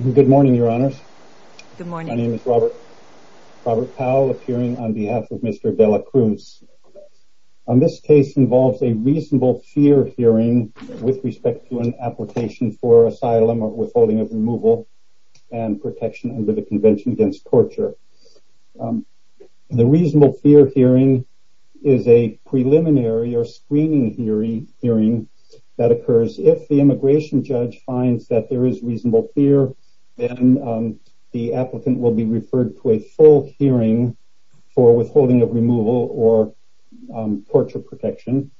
Good morning, Your Honors. My name is Robert Powell, appearing on behalf of Mr. De La Cruz. This case involves a reasonable fear hearing with respect to an application for asylum or withholding of removal and protection under the Convention Against Torture. The reasonable fear hearing is a preliminary or screening hearing that occurs if the immigration judge finds that there is reasonable fear, then the applicant will be referred to a full hearing for withholding of removal or torture protection.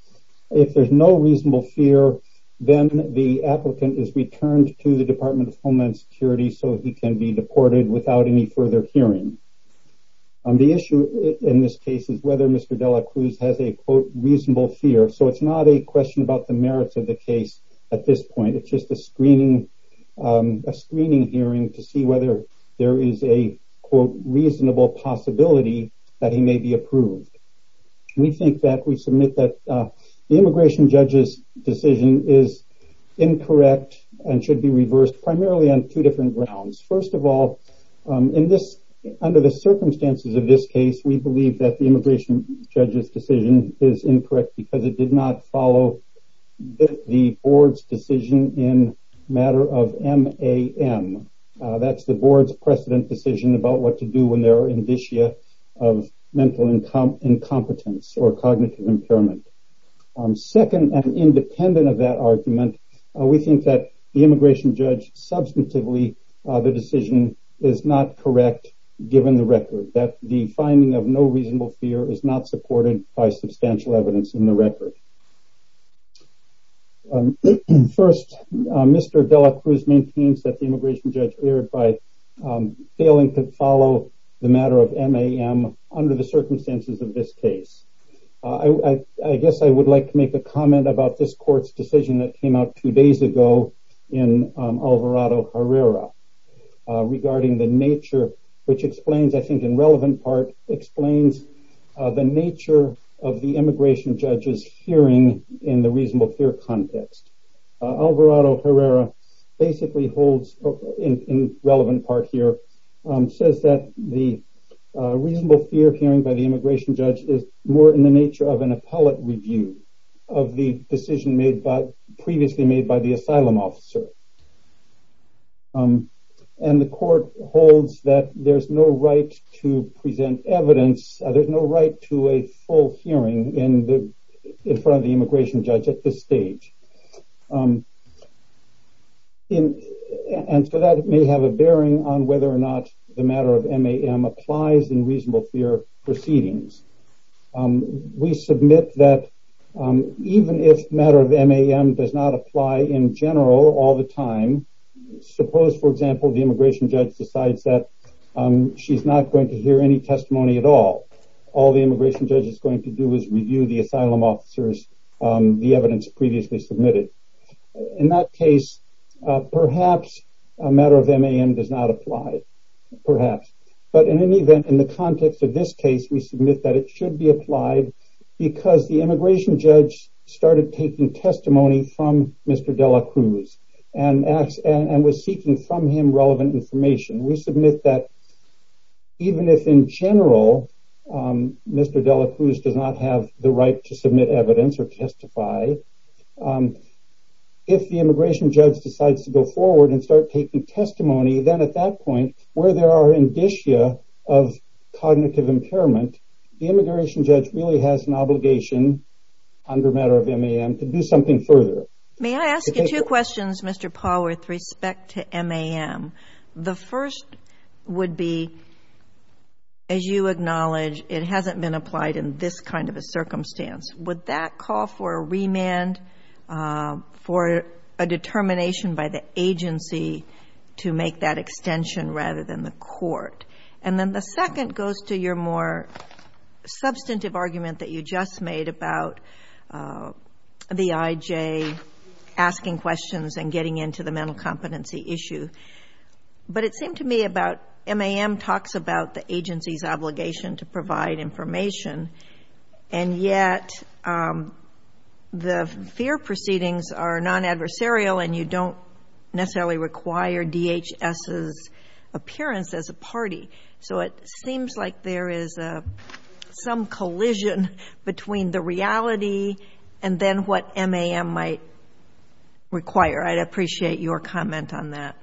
If there's no reasonable fear, then the applicant is returned to the Department of Homeland Security so he can be deported without any further hearing. The issue in this case is whether Mr. De La Cruz has a quote reasonable fear, so it's not a question about the merits of the case at this point. It's just a screening hearing to see whether there is a quote reasonable possibility that he may be approved. We think that we submit that the immigration judge's decision is incorrect and should be reversed primarily on two different grounds. First of all, under the circumstances of this case, we believe that the follow the board's decision in matter of MAM. That's the board's precedent decision about what to do when there are indicia of mental incompetence or cognitive impairment. Second, and independent of that argument, we think that the immigration judge, substantively, the decision is not correct given the record, that the finding of no reasonable fear is not supported by substantial evidence in record. First, Mr. De La Cruz maintains that the immigration judge erred by failing to follow the matter of MAM under the circumstances of this case. I guess I would like to make a comment about this court's decision that came out two days ago in Alvarado Herrera regarding the nature, which explains, I think in relevant part, explains the nature of the immigration judge's hearing in the reasonable fear context. Alvarado Herrera basically holds, in relevant part here, says that the reasonable fear hearing by the immigration judge is more in the nature of an appellate review of the decision made by, previously made by the asylum officer. And the court holds that there's no right to present evidence, there's no right to a full hearing in front of the immigration judge at this stage. And so that may have a bearing on whether or not the matter of MAM applies in reasonable fear proceedings. We submit that even if matter of MAM does not apply in general all the time, suppose, for example, the immigration judge decides that she's not going to hear any testimony at all, all the immigration judge is going to do is review the asylum officers, the evidence previously submitted. In that case, perhaps a matter of MAM does not apply, perhaps. But in any event, in the context of this case, we submit that it should be applied because the immigration judge started taking testimony from Mr. de la Cruz and was seeking from him relevant information. We submit that even if in general, Mr. de la Cruz does not have the right to submit evidence or testify, if the immigration judge decides to go forward and start taking testimony, then at that cognitive impairment, the immigration judge really has an obligation under matter of MAM to do something further. May I ask you two questions, Mr. Paul, with respect to MAM. The first would be, as you acknowledge, it hasn't been applied in this kind of a circumstance. Would that call for a remand for a determination by the agency to make that extension rather than the court? And then the second goes to your more substantive argument that you just made about the IJ asking questions and getting into the mental competency issue. But it seemed to me about MAM talks about the agency's obligation to provide information, and yet the fear proceedings are non-adversarial and you don't necessarily require DHS's party. So it seems like there is some collision between the reality and then what MAM might require. I'd appreciate your comment on that.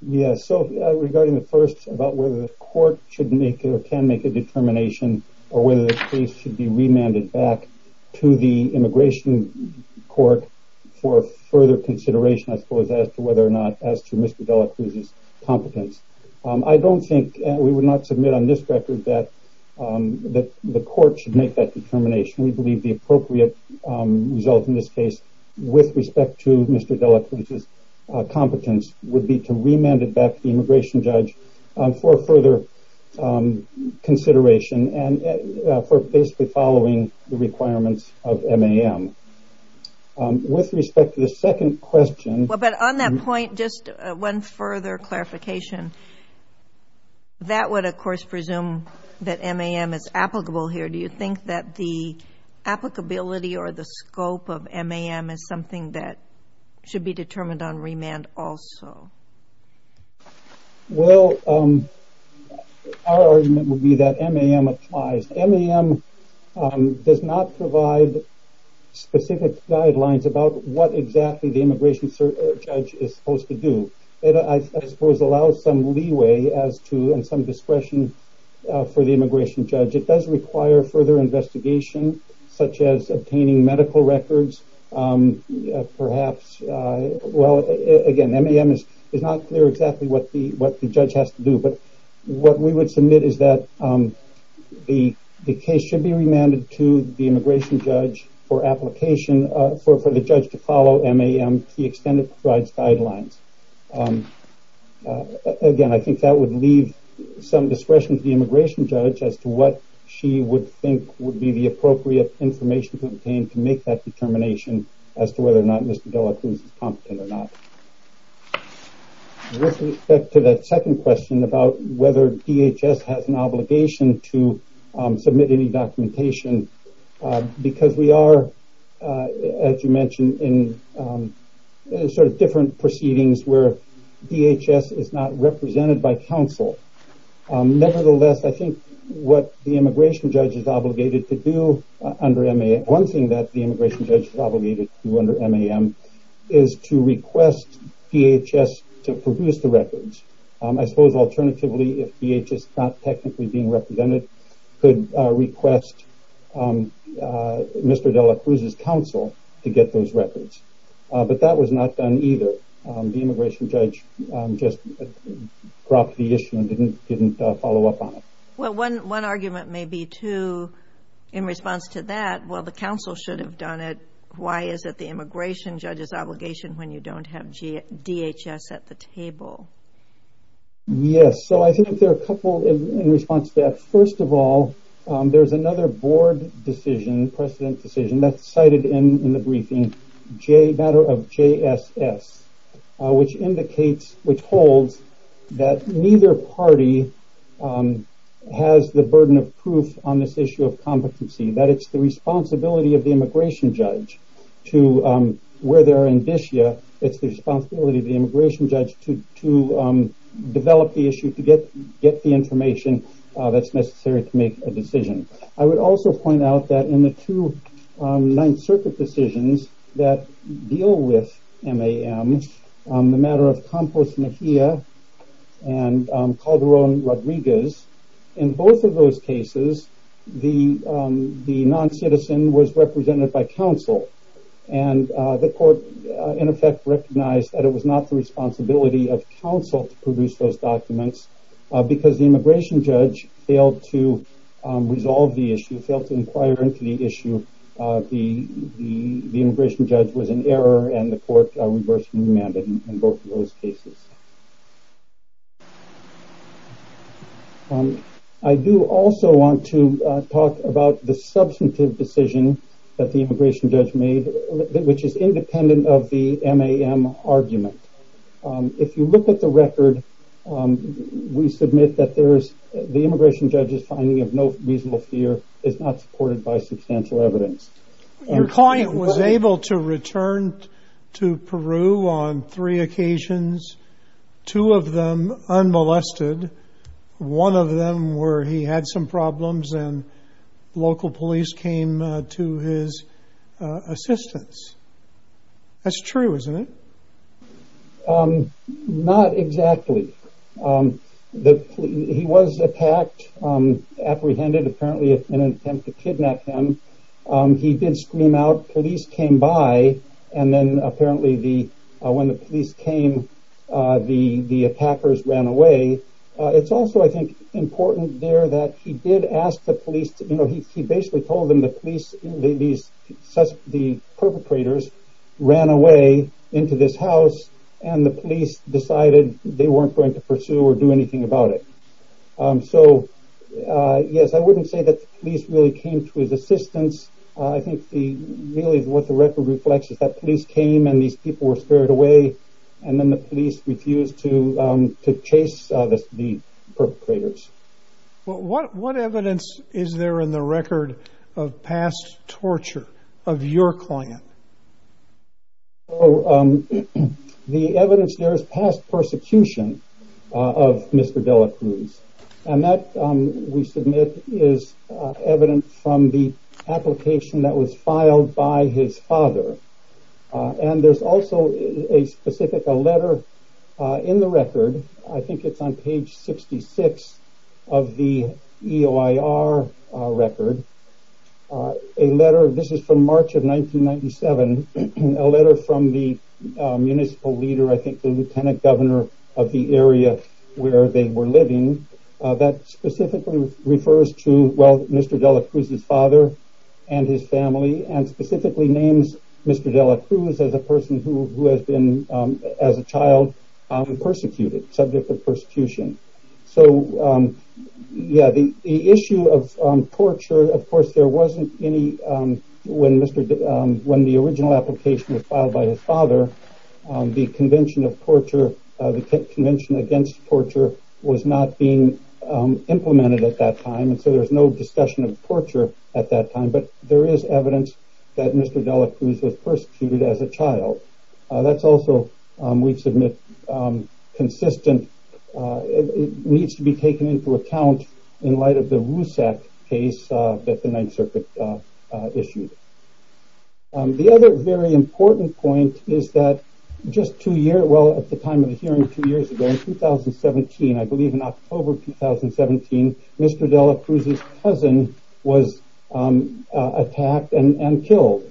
Yes. So regarding the first about whether the court should make or can make a determination or whether the case should be remanded back to the immigration court for further consideration, I suppose, as to whether as to Mr. Delacruz's competence. I don't think we would not submit on this record that the court should make that determination. We believe the appropriate result in this case with respect to Mr. Delacruz's competence would be to remand it back to the immigration judge for further consideration and for basically following the requirements of MAM. With respect to the second question... But on that point, just one further clarification. That would, of course, presume that MAM is applicable here. Do you think that the applicability or the scope of MAM is something that should be determined on remand also? Well, our argument would be that MAM applies. MAM does not provide specific guidelines about what exactly the immigration judge is supposed to do. It, I suppose, allows some leeway as to and some discretion for the immigration judge. It does require further investigation, such as obtaining medical records. Again, MAM is not clear exactly what the judge has to do. What we would submit is that the case should be remanded to the immigration judge for application for the judge to follow MAM to extend its guidelines. Again, I think that would leave some discretion to the immigration judge as to what she would think would be the appropriate information to obtain to make that determination as to whether or not Mr. Delacruz is competent or not. With respect to that second question about whether DHS has an obligation to submit any documentation, because we are, as you mentioned, in different proceedings where DHS is not represented by counsel. Nevertheless, I think what the immigration judge is obligated to do under MAM, one thing that the immigration judge is obligated to do under MAM is to request DHS to produce the records. I suppose, alternatively, if DHS is not technically being represented, could request Mr. Delacruz's counsel to get those records, but that was not done either. The immigration judge just dropped the issue and didn't follow up on it. Well, one argument may be, too, in response to that, while the counsel should have done it, why is it the immigration judge's obligation when you don't have DHS at the table? Yes, so I think there are a couple in response to that. First of all, there's another board decision, precedent decision, that's cited in the briefing, matter of JSS, which indicates, which holds, that neither party has the burden of proof on this issue of competency. That it's the responsibility of the immigration judge to, where they are in DHS, it's the responsibility of the immigration judge to develop the issue, get the information that's necessary to make a decision. I would also point out that in the two Ninth Circuit decisions that deal with MAM, the matter of Campos Mejia and Calderon Rodriguez, in both of those cases, the non-citizen was represented by counsel, and the court, in effect, recognized that it was not the responsibility of counsel to produce those because the immigration judge failed to resolve the issue, failed to inquire into the issue. The immigration judge was in error, and the court reversed the amendment in both of those cases. I do also want to talk about the substantive decision that the immigration judge made, which is independent of the MAM argument. If you look at the record, we submit that the immigration judge's finding of no reasonable fear is not supported by substantial evidence. Your client was able to return to Peru on three occasions, two of them unmolested, one of them where he had some problems and local police came to his assistance. That's true, isn't it? Not exactly. He was attacked, apprehended, apparently in an attempt to kidnap him. He did scream out, police came by, and then apparently when the police came, the attackers ran away, it's also, I think, important there that he did ask the police, he basically told them the police, the perpetrators ran away into this house, and the police decided they weren't going to pursue or do anything about it. So, yes, I wouldn't say that the police really came to his assistance. I think really what the record reflects is that police came and these people were scared away, and then the police refused to chase the perpetrators. What evidence is there in the record of past torture of your client? The evidence there is past persecution of Mr. Delacruz, and that, we submit, is evidence from the application that was filed by his father. There's also a letter in the record, I think it's on page 66 of the EOIR record, a letter, this is from March of 1997, a letter from the municipal leader, I think the lieutenant governor of the area where they were living, that specifically refers to, well, Mr. Delacruz's father and his family, and specifically names Mr. Delacruz as a person who has been, as a child, persecuted, subject of persecution. So, yeah, the issue of torture, of course, there wasn't any, when the original application was filed by his father, the convention of torture, the convention against torture was not being implemented at that time, and so there's no discussion of torture at that time, but there is evidence that Mr. Delacruz was persecuted as a child. That's also, we submit, consistent, it needs to be taken into account in light of the Rusak case that the 9th Circuit issued. The other very important point is that just two years, well, at the time of the hearing two years ago, in 2017, I believe in October 2017, Mr. Delacruz's cousin was attacked and killed,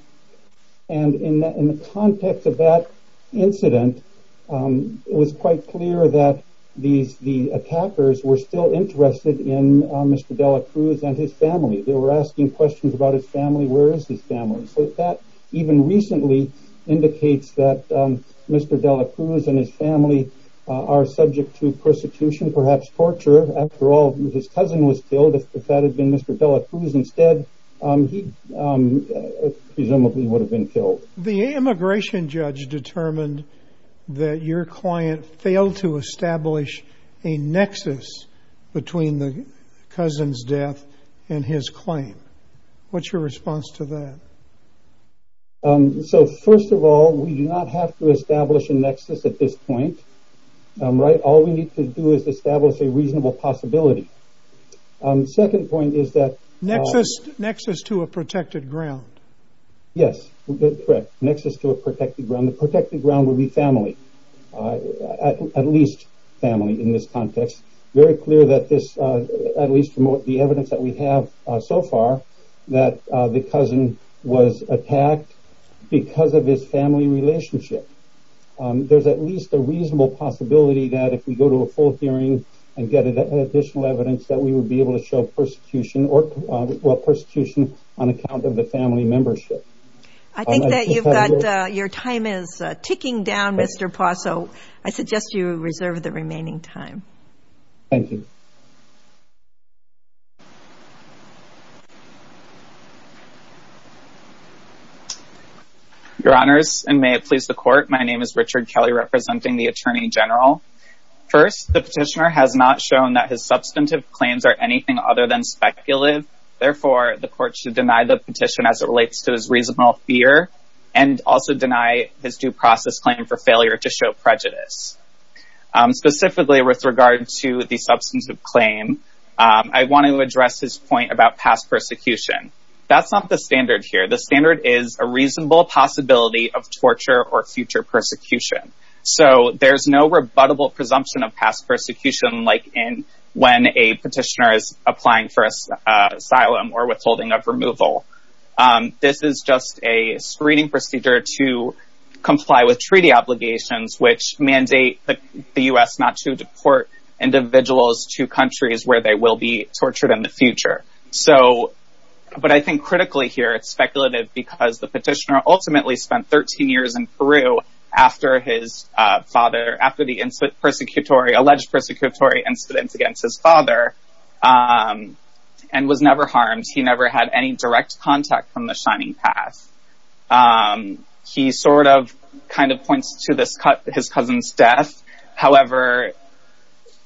and in the context of that incident, it was quite clear that the attackers were still interested in Mr. Delacruz and his family. They were asking questions about his family, where is his family, so that even recently indicates that Mr. Delacruz and his family are subject to persecution, perhaps torture. After all, his cousin was killed. If that had been Mr. Delacruz instead, he presumably would have been determined that your client failed to establish a nexus between the cousin's death and his claim. What's your response to that? First of all, we do not have to establish a nexus at this point. All we need to do is establish a reasonable possibility. Second point is that- Protected ground would be family, at least family in this context. Very clear that this, at least from the evidence that we have so far, that the cousin was attacked because of his family relationship. There's at least a reasonable possibility that if we go to a full hearing and get additional evidence that we would be able to show persecution, or I think that you've got your time is ticking down, Mr. Pazzo. I suggest you reserve the remaining time. Thank you. Your honors, and may it please the court, my name is Richard Kelly representing the Attorney General. First, the petitioner has not shown that his substantive claims are anything other than fear and also deny his due process claim for failure to show prejudice. Specifically with regard to the substantive claim, I want to address his point about past persecution. That's not the standard here. The standard is a reasonable possibility of torture or future persecution. So there's no rebuttable presumption of past persecution like when a petitioner is of removal. This is just a screening procedure to comply with treaty obligations which mandate the U.S. not to deport individuals to countries where they will be tortured in the future. But I think critically here, it's speculative because the petitioner ultimately spent 13 years in Peru after the alleged persecutory incidents against his father and was never harmed. He never had any direct contact from the Shining Path. He sort of kind of points to his cousin's death. However,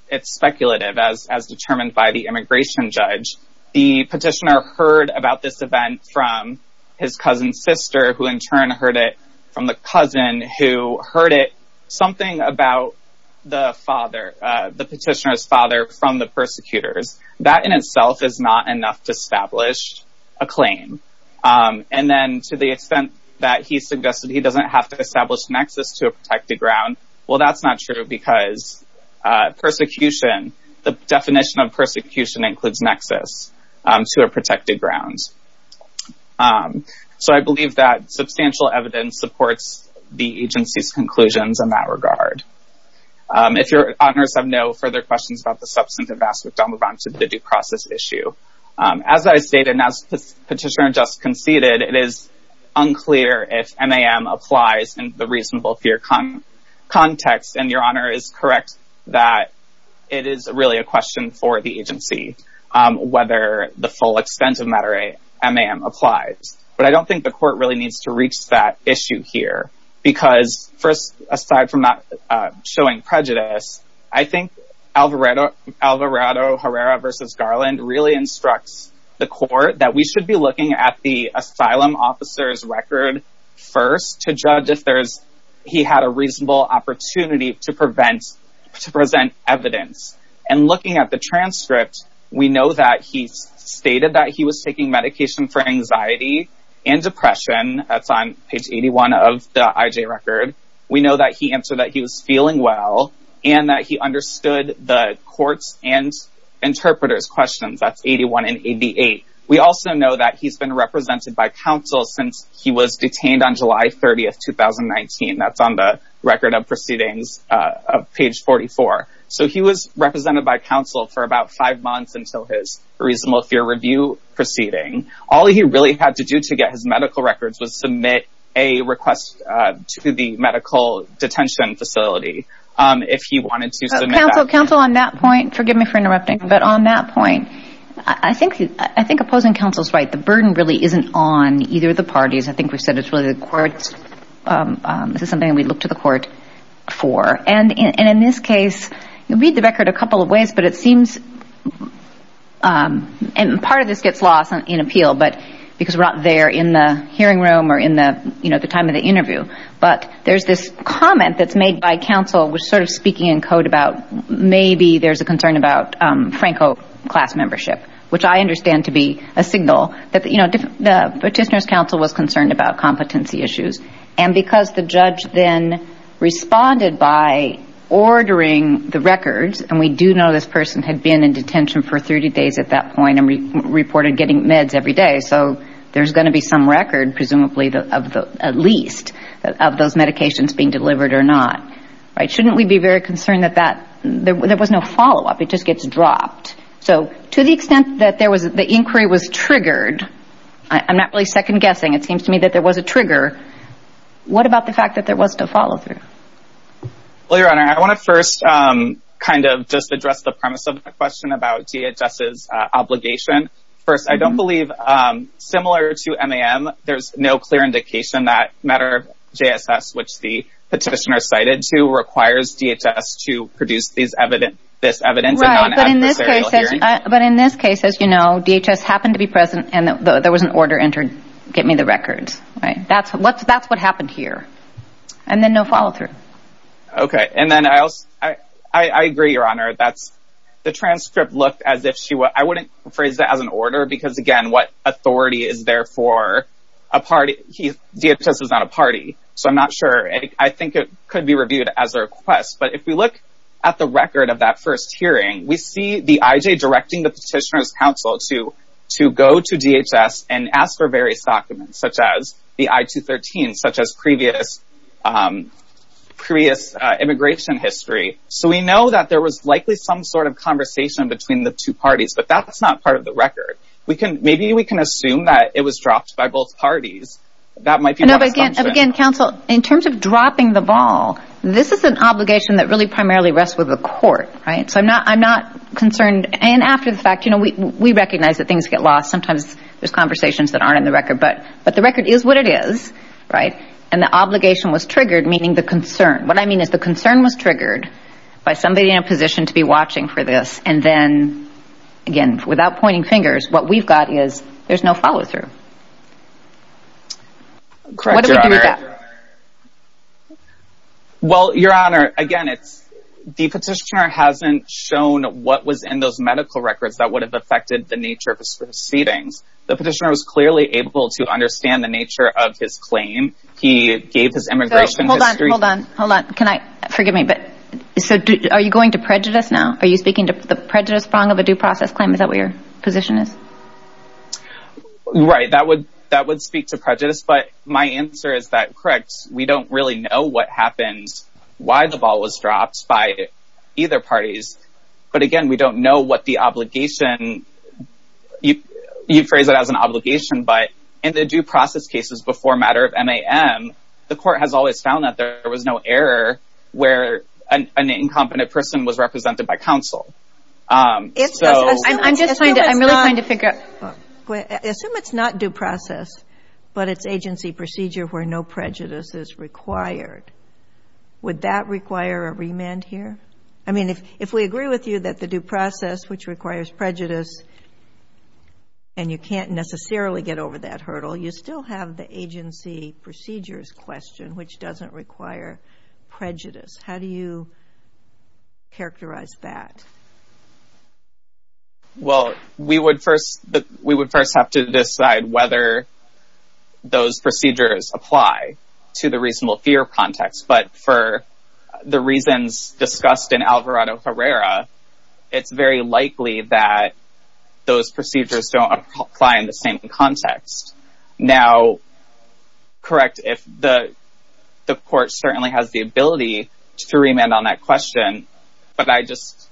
it's speculative as determined by the immigration judge. The petitioner heard about this event from his cousin's sister who in turn heard it from the cousin who heard it, something about the father, the petitioner's father from the persecutors. That in itself is not enough to establish a claim. And then to the extent that he suggested he doesn't have to establish nexus to a protected ground, well that's not true because persecution, the definition of persecution includes nexus to a protected ground. So I believe that substantial evidence supports the agency's conclusions in that regard. If your honors have no further questions about the as I stated and as petitioner just conceded, it is unclear if MAM applies in the reasonable fear context. And your honor is correct that it is really a question for the agency whether the full extent of matter MAM applies. But I don't think the court really needs to reach that issue here because first aside from not showing prejudice, I think Alvarado Herrera versus really instructs the court that we should be looking at the asylum officer's record first to judge if he had a reasonable opportunity to present evidence. And looking at the transcript, we know that he stated that he was taking medication for anxiety and depression, that's on page 81 of the IJ record. We know that he answered that he was feeling well and that he understood the court's and interpreter's questions, that's 81 and 88. We also know that he's been represented by counsel since he was detained on July 30, 2019. That's on the record of proceedings of page 44. So he was represented by counsel for about five months until his reasonable fear review proceeding. All he really had to do to get his medical records was submit a request to the medical detention facility if he wanted to submit that. Counsel, on that point, forgive me for interrupting, but on that point, I think opposing counsel's right. The burden really isn't on either of the parties. I think we've said it's really the courts. This is something we look to the court for. And in this case, you read the record a couple of ways, but it seems, and part of this gets lost in appeal, but because we're not there in the hearing room or in the time of the interview, but there's this comment that's made by counsel was sort of speaking in code about maybe there's a concern about Franco class membership, which I understand to be a signal that the petitioner's counsel was concerned about competency issues. And because the judge then responded by ordering the records, and we do know this person had been in detention for 30 days at that point and reported getting meds every day. So there's going to be some record, presumably at least, of those medications being delivered or not, right? Shouldn't we be very concerned that there was no follow-up? It just gets dropped. So to the extent that the inquiry was triggered, I'm not really second-guessing. It seems to me that there was a trigger. What about the fact that there was no follow-through? Well, Your Honor, I want to first kind of just address the premise of my question about DHS's JSS, which the petitioner cited to requires DHS to produce this evidence. But in this case, as you know, DHS happened to be present and there was an order entered, get me the records, right? That's what happened here. And then no follow-through. Okay. And then I agree, Your Honor. The transcript looked as if she would... I wouldn't I'm not sure. I think it could be reviewed as a request. But if we look at the record of that first hearing, we see the IJ directing the petitioner's counsel to go to DHS and ask for various documents, such as the I-213, such as previous immigration history. So we know that there was likely some sort of conversation between the two parties, but that's not part of the counsel. In terms of dropping the ball, this is an obligation that really primarily rests with the court. Right. So I'm not I'm not concerned. And after the fact, you know, we recognize that things get lost. Sometimes there's conversations that aren't in the record. But but the record is what it is. Right. And the obligation was triggered, meaning the concern. What I mean is the concern was triggered by somebody in a position to be watching for this. And then, again, without pointing fingers, what we've got is there's no follow through. Correct. Well, Your Honor, again, it's the petitioner hasn't shown what was in those medical records that would have affected the nature of his proceedings. The petitioner was clearly able to understand the nature of his claim. He gave his immigration history. Hold on. Hold on. Can I forgive me? But so are you going to prejudice now? Are you speaking to the prejudice prong of a due process claim? Is that where your position is? Right. That would that would speak to prejudice. But my answer is that. Correct. We don't really know what happens, why the ball was dropped by either parties. But again, we don't know what the obligation you phrase it as an obligation. But in the due process cases before a matter of MAM, the court has always found that there was no error where an incompetent person was represented by counsel. I'm just trying to I'm really trying to figure out assume it's not due process, but it's agency procedure where no prejudice is required. Would that require a remand here? I mean, if we agree with you that the due process, which requires prejudice and you can't necessarily get over that hurdle, you still have the agency procedures question, which doesn't require prejudice. How do you characterize that? Well, we would first we would first have to decide whether those procedures apply to the reasonable fear context. But for the reasons discussed in Alvarado Herrera, it's very likely that those procedures don't apply in the same context. Now, correct if the court certainly has the ability to remand on that question. But I just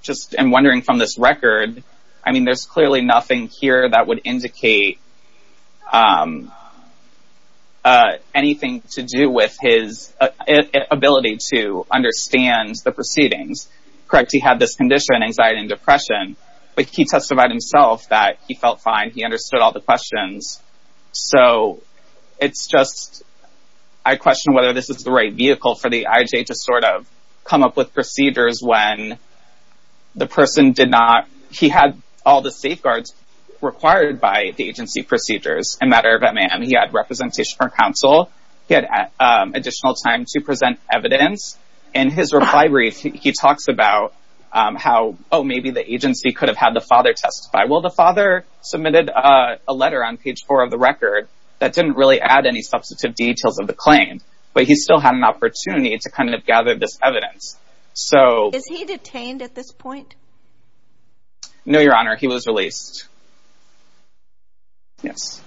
just am wondering from this record. I mean, there's clearly nothing here that would indicate anything to do with his ability to understand anxiety and depression. But he testified himself that he felt fine. He understood all the questions. So it's just I question whether this is the right vehicle for the IJ to sort of come up with procedures when the person did not. He had all the safeguards required by the agency procedures. In matter of MAM, he had representation from counsel. He had additional time to present evidence. In his reply brief, he talks about how, oh, maybe the agency could have had the father testify. Well, the father submitted a letter on page four of the record that didn't really add any substantive details of the claim, but he still had an opportunity to kind of gather this evidence. So is he detained at this point? No, Your Honor, he was released. Yes.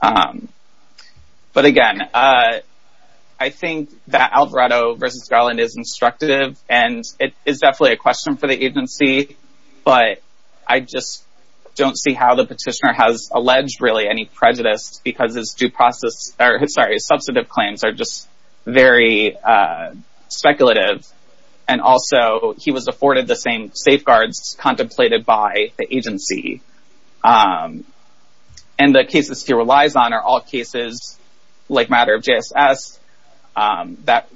But again, I think that Alvarado versus Garland is instructive and it is definitely a question for the agency. But I just don't see how the petitioner has alleged really any prejudice because his due process or his sorry, his substantive claims are just very speculative. And also he was afforded the same safeguards contemplated by the agency. And the cases he relies on are all cases like matter of JSS that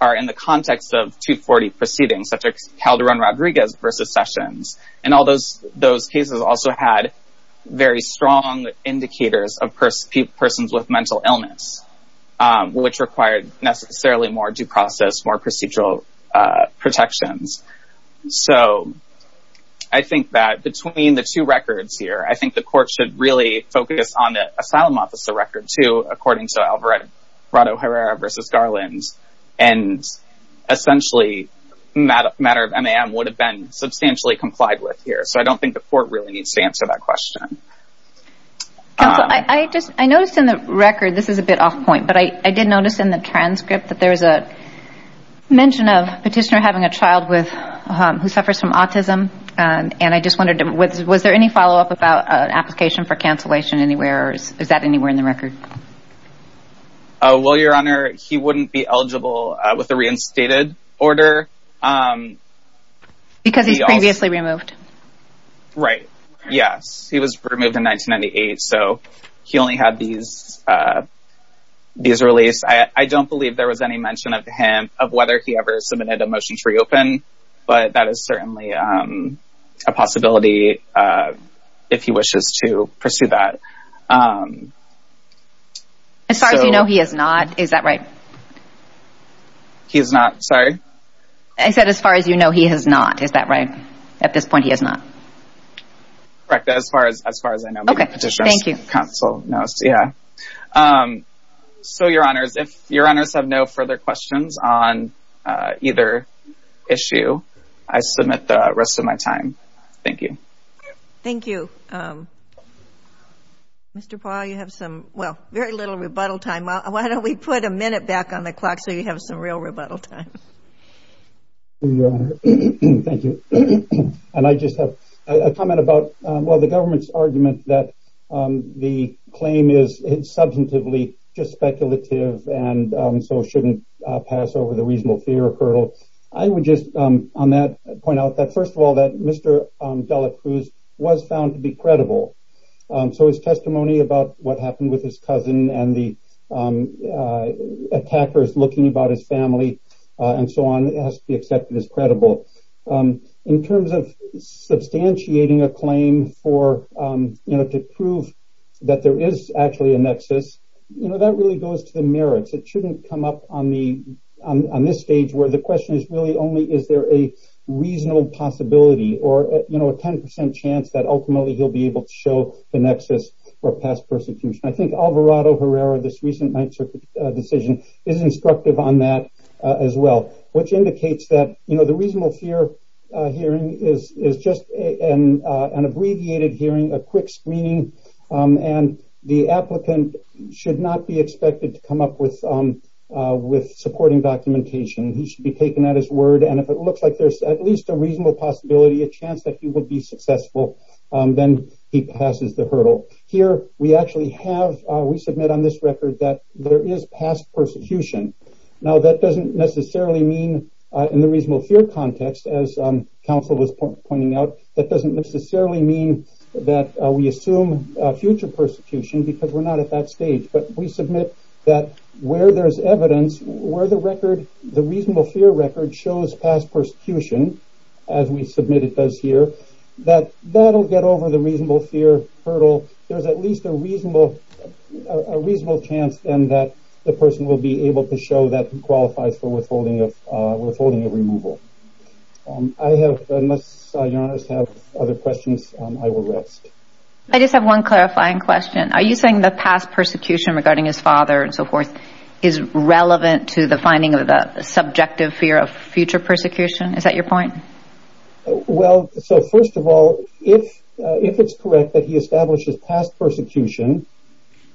are in the context of 240 proceedings, such as Calderon Rodriguez versus Sessions. And all those cases also had very strong indicators of persons with mental illness, which required necessarily more due process, more procedural protections. So I think that between the two records here, I think the court should really focus on the asylum officer record, too, according to Alvarado-Herrera versus Garland. And essentially, matter of MAM would have been substantially complied with here. So I don't think the court really needs to answer that question. Counsel, I noticed in the record, this is a bit off point, but I did notice in the transcript that there is a mention of petitioner having a child with who suffers from autism. And I just wondered, was there any follow up about an application for cancellation anywhere? Is that anywhere in the record? Oh, well, Your Honor, he wouldn't be eligible with a reinstated order. Because he's previously removed. Right. Yes. He was removed in 1998. So he only had these these released. I don't believe there was any mention of him, of whether he ever submitted a motion to reopen. But that is certainly a possibility if he wishes to pursue that. As far as you know, he has not. Is that right? He's not. Sorry. I said as far as you know, he has not. Is that right? At this point, he has not. Correct. As far as as far as I know, the Petitioner's Counsel knows. Yeah. So, Your Honor, if Your Honors have no further questions on either issue, I submit the rest of my time. Thank you. Thank you. Mr. Paul, you have some, well, very little rebuttal time. Why don't we put a minute back on the clock so you have some real rebuttal time? Thank you, Your Honor. Thank you. And I just have a comment about, well, the government's argument that the claim is substantively just speculative and so shouldn't pass over the reasonable fear hurdle. I would just on that point out that, first of all, that Mr. Dela Cruz was found to be credible. So his testimony about what happened with his cousin and the attackers looking about his family and so on has to be accepted as credible. In terms of substantiating a claim for, you know, to prove that there is actually a nexus, you know, that really goes to the merits. It shouldn't come up on the on this stage where the question is really only is there a reasonable possibility or, you know, a 10% chance that ultimately he'll be able to show the nexus for past persecution. I think Alvarado-Herrera, this recent Ninth Circuit decision, is instructive on that as well, which indicates that, you know, the reasonable fear hearing is just an abbreviated hearing, a quick screening, and the applicant should not be expected to come up with supporting documentation. He should be taken at his word, and if it looks like there's at least a reasonable possibility, a chance that he will be successful, then he passes the hurdle. Here, we actually have, we submit on this record that there is past persecution. Now, that doesn't necessarily mean in the reasonable fear context, as counsel was pointing out, that doesn't necessarily mean that we assume future persecution because we're not at that stage, but we submit that where there's evidence, where the record, the reasonable fear record shows past persecution, as we submit it does here, that that'll get over the reasonable fear hurdle. There's at least a reasonable chance, then, that the person will be able to show that he qualifies for withholding of removal. I have, unless your honors have other questions, I will rest. I just have one clarifying question. Are you saying the past persecution regarding his father and so forth is relevant to the finding of the subjective fear of future persecution? Is that your point? Well, so, first of all, if it's correct that he establishes past persecution,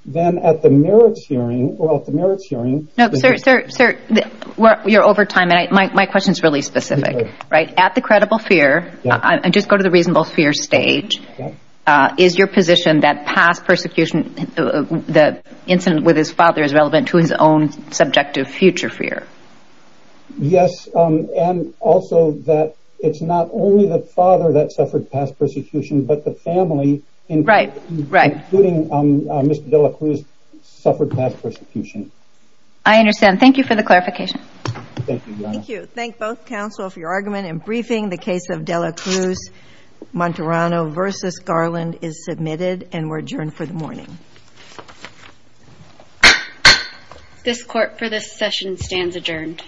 then at the merits hearing, well, at the merits hearing... No, sir, sir, sir, you're over time, and my question is really specific, right? At the credible fear, and just go to the reasonable fear stage, is your position that past persecution, the incident with his father is relevant to his own subjective future fear? Yes, and also that it's not only the father that suffered past persecution, but the family, including Mr. De La Cruz, suffered past persecution. I understand. Thank you for the clarification. Thank you, your honor. Thank you. Thank both counsel for your argument and briefing. The case of De La Cruz-Monterano v. Garland is submitted, and we're adjourned for the morning. This court for this session stands adjourned.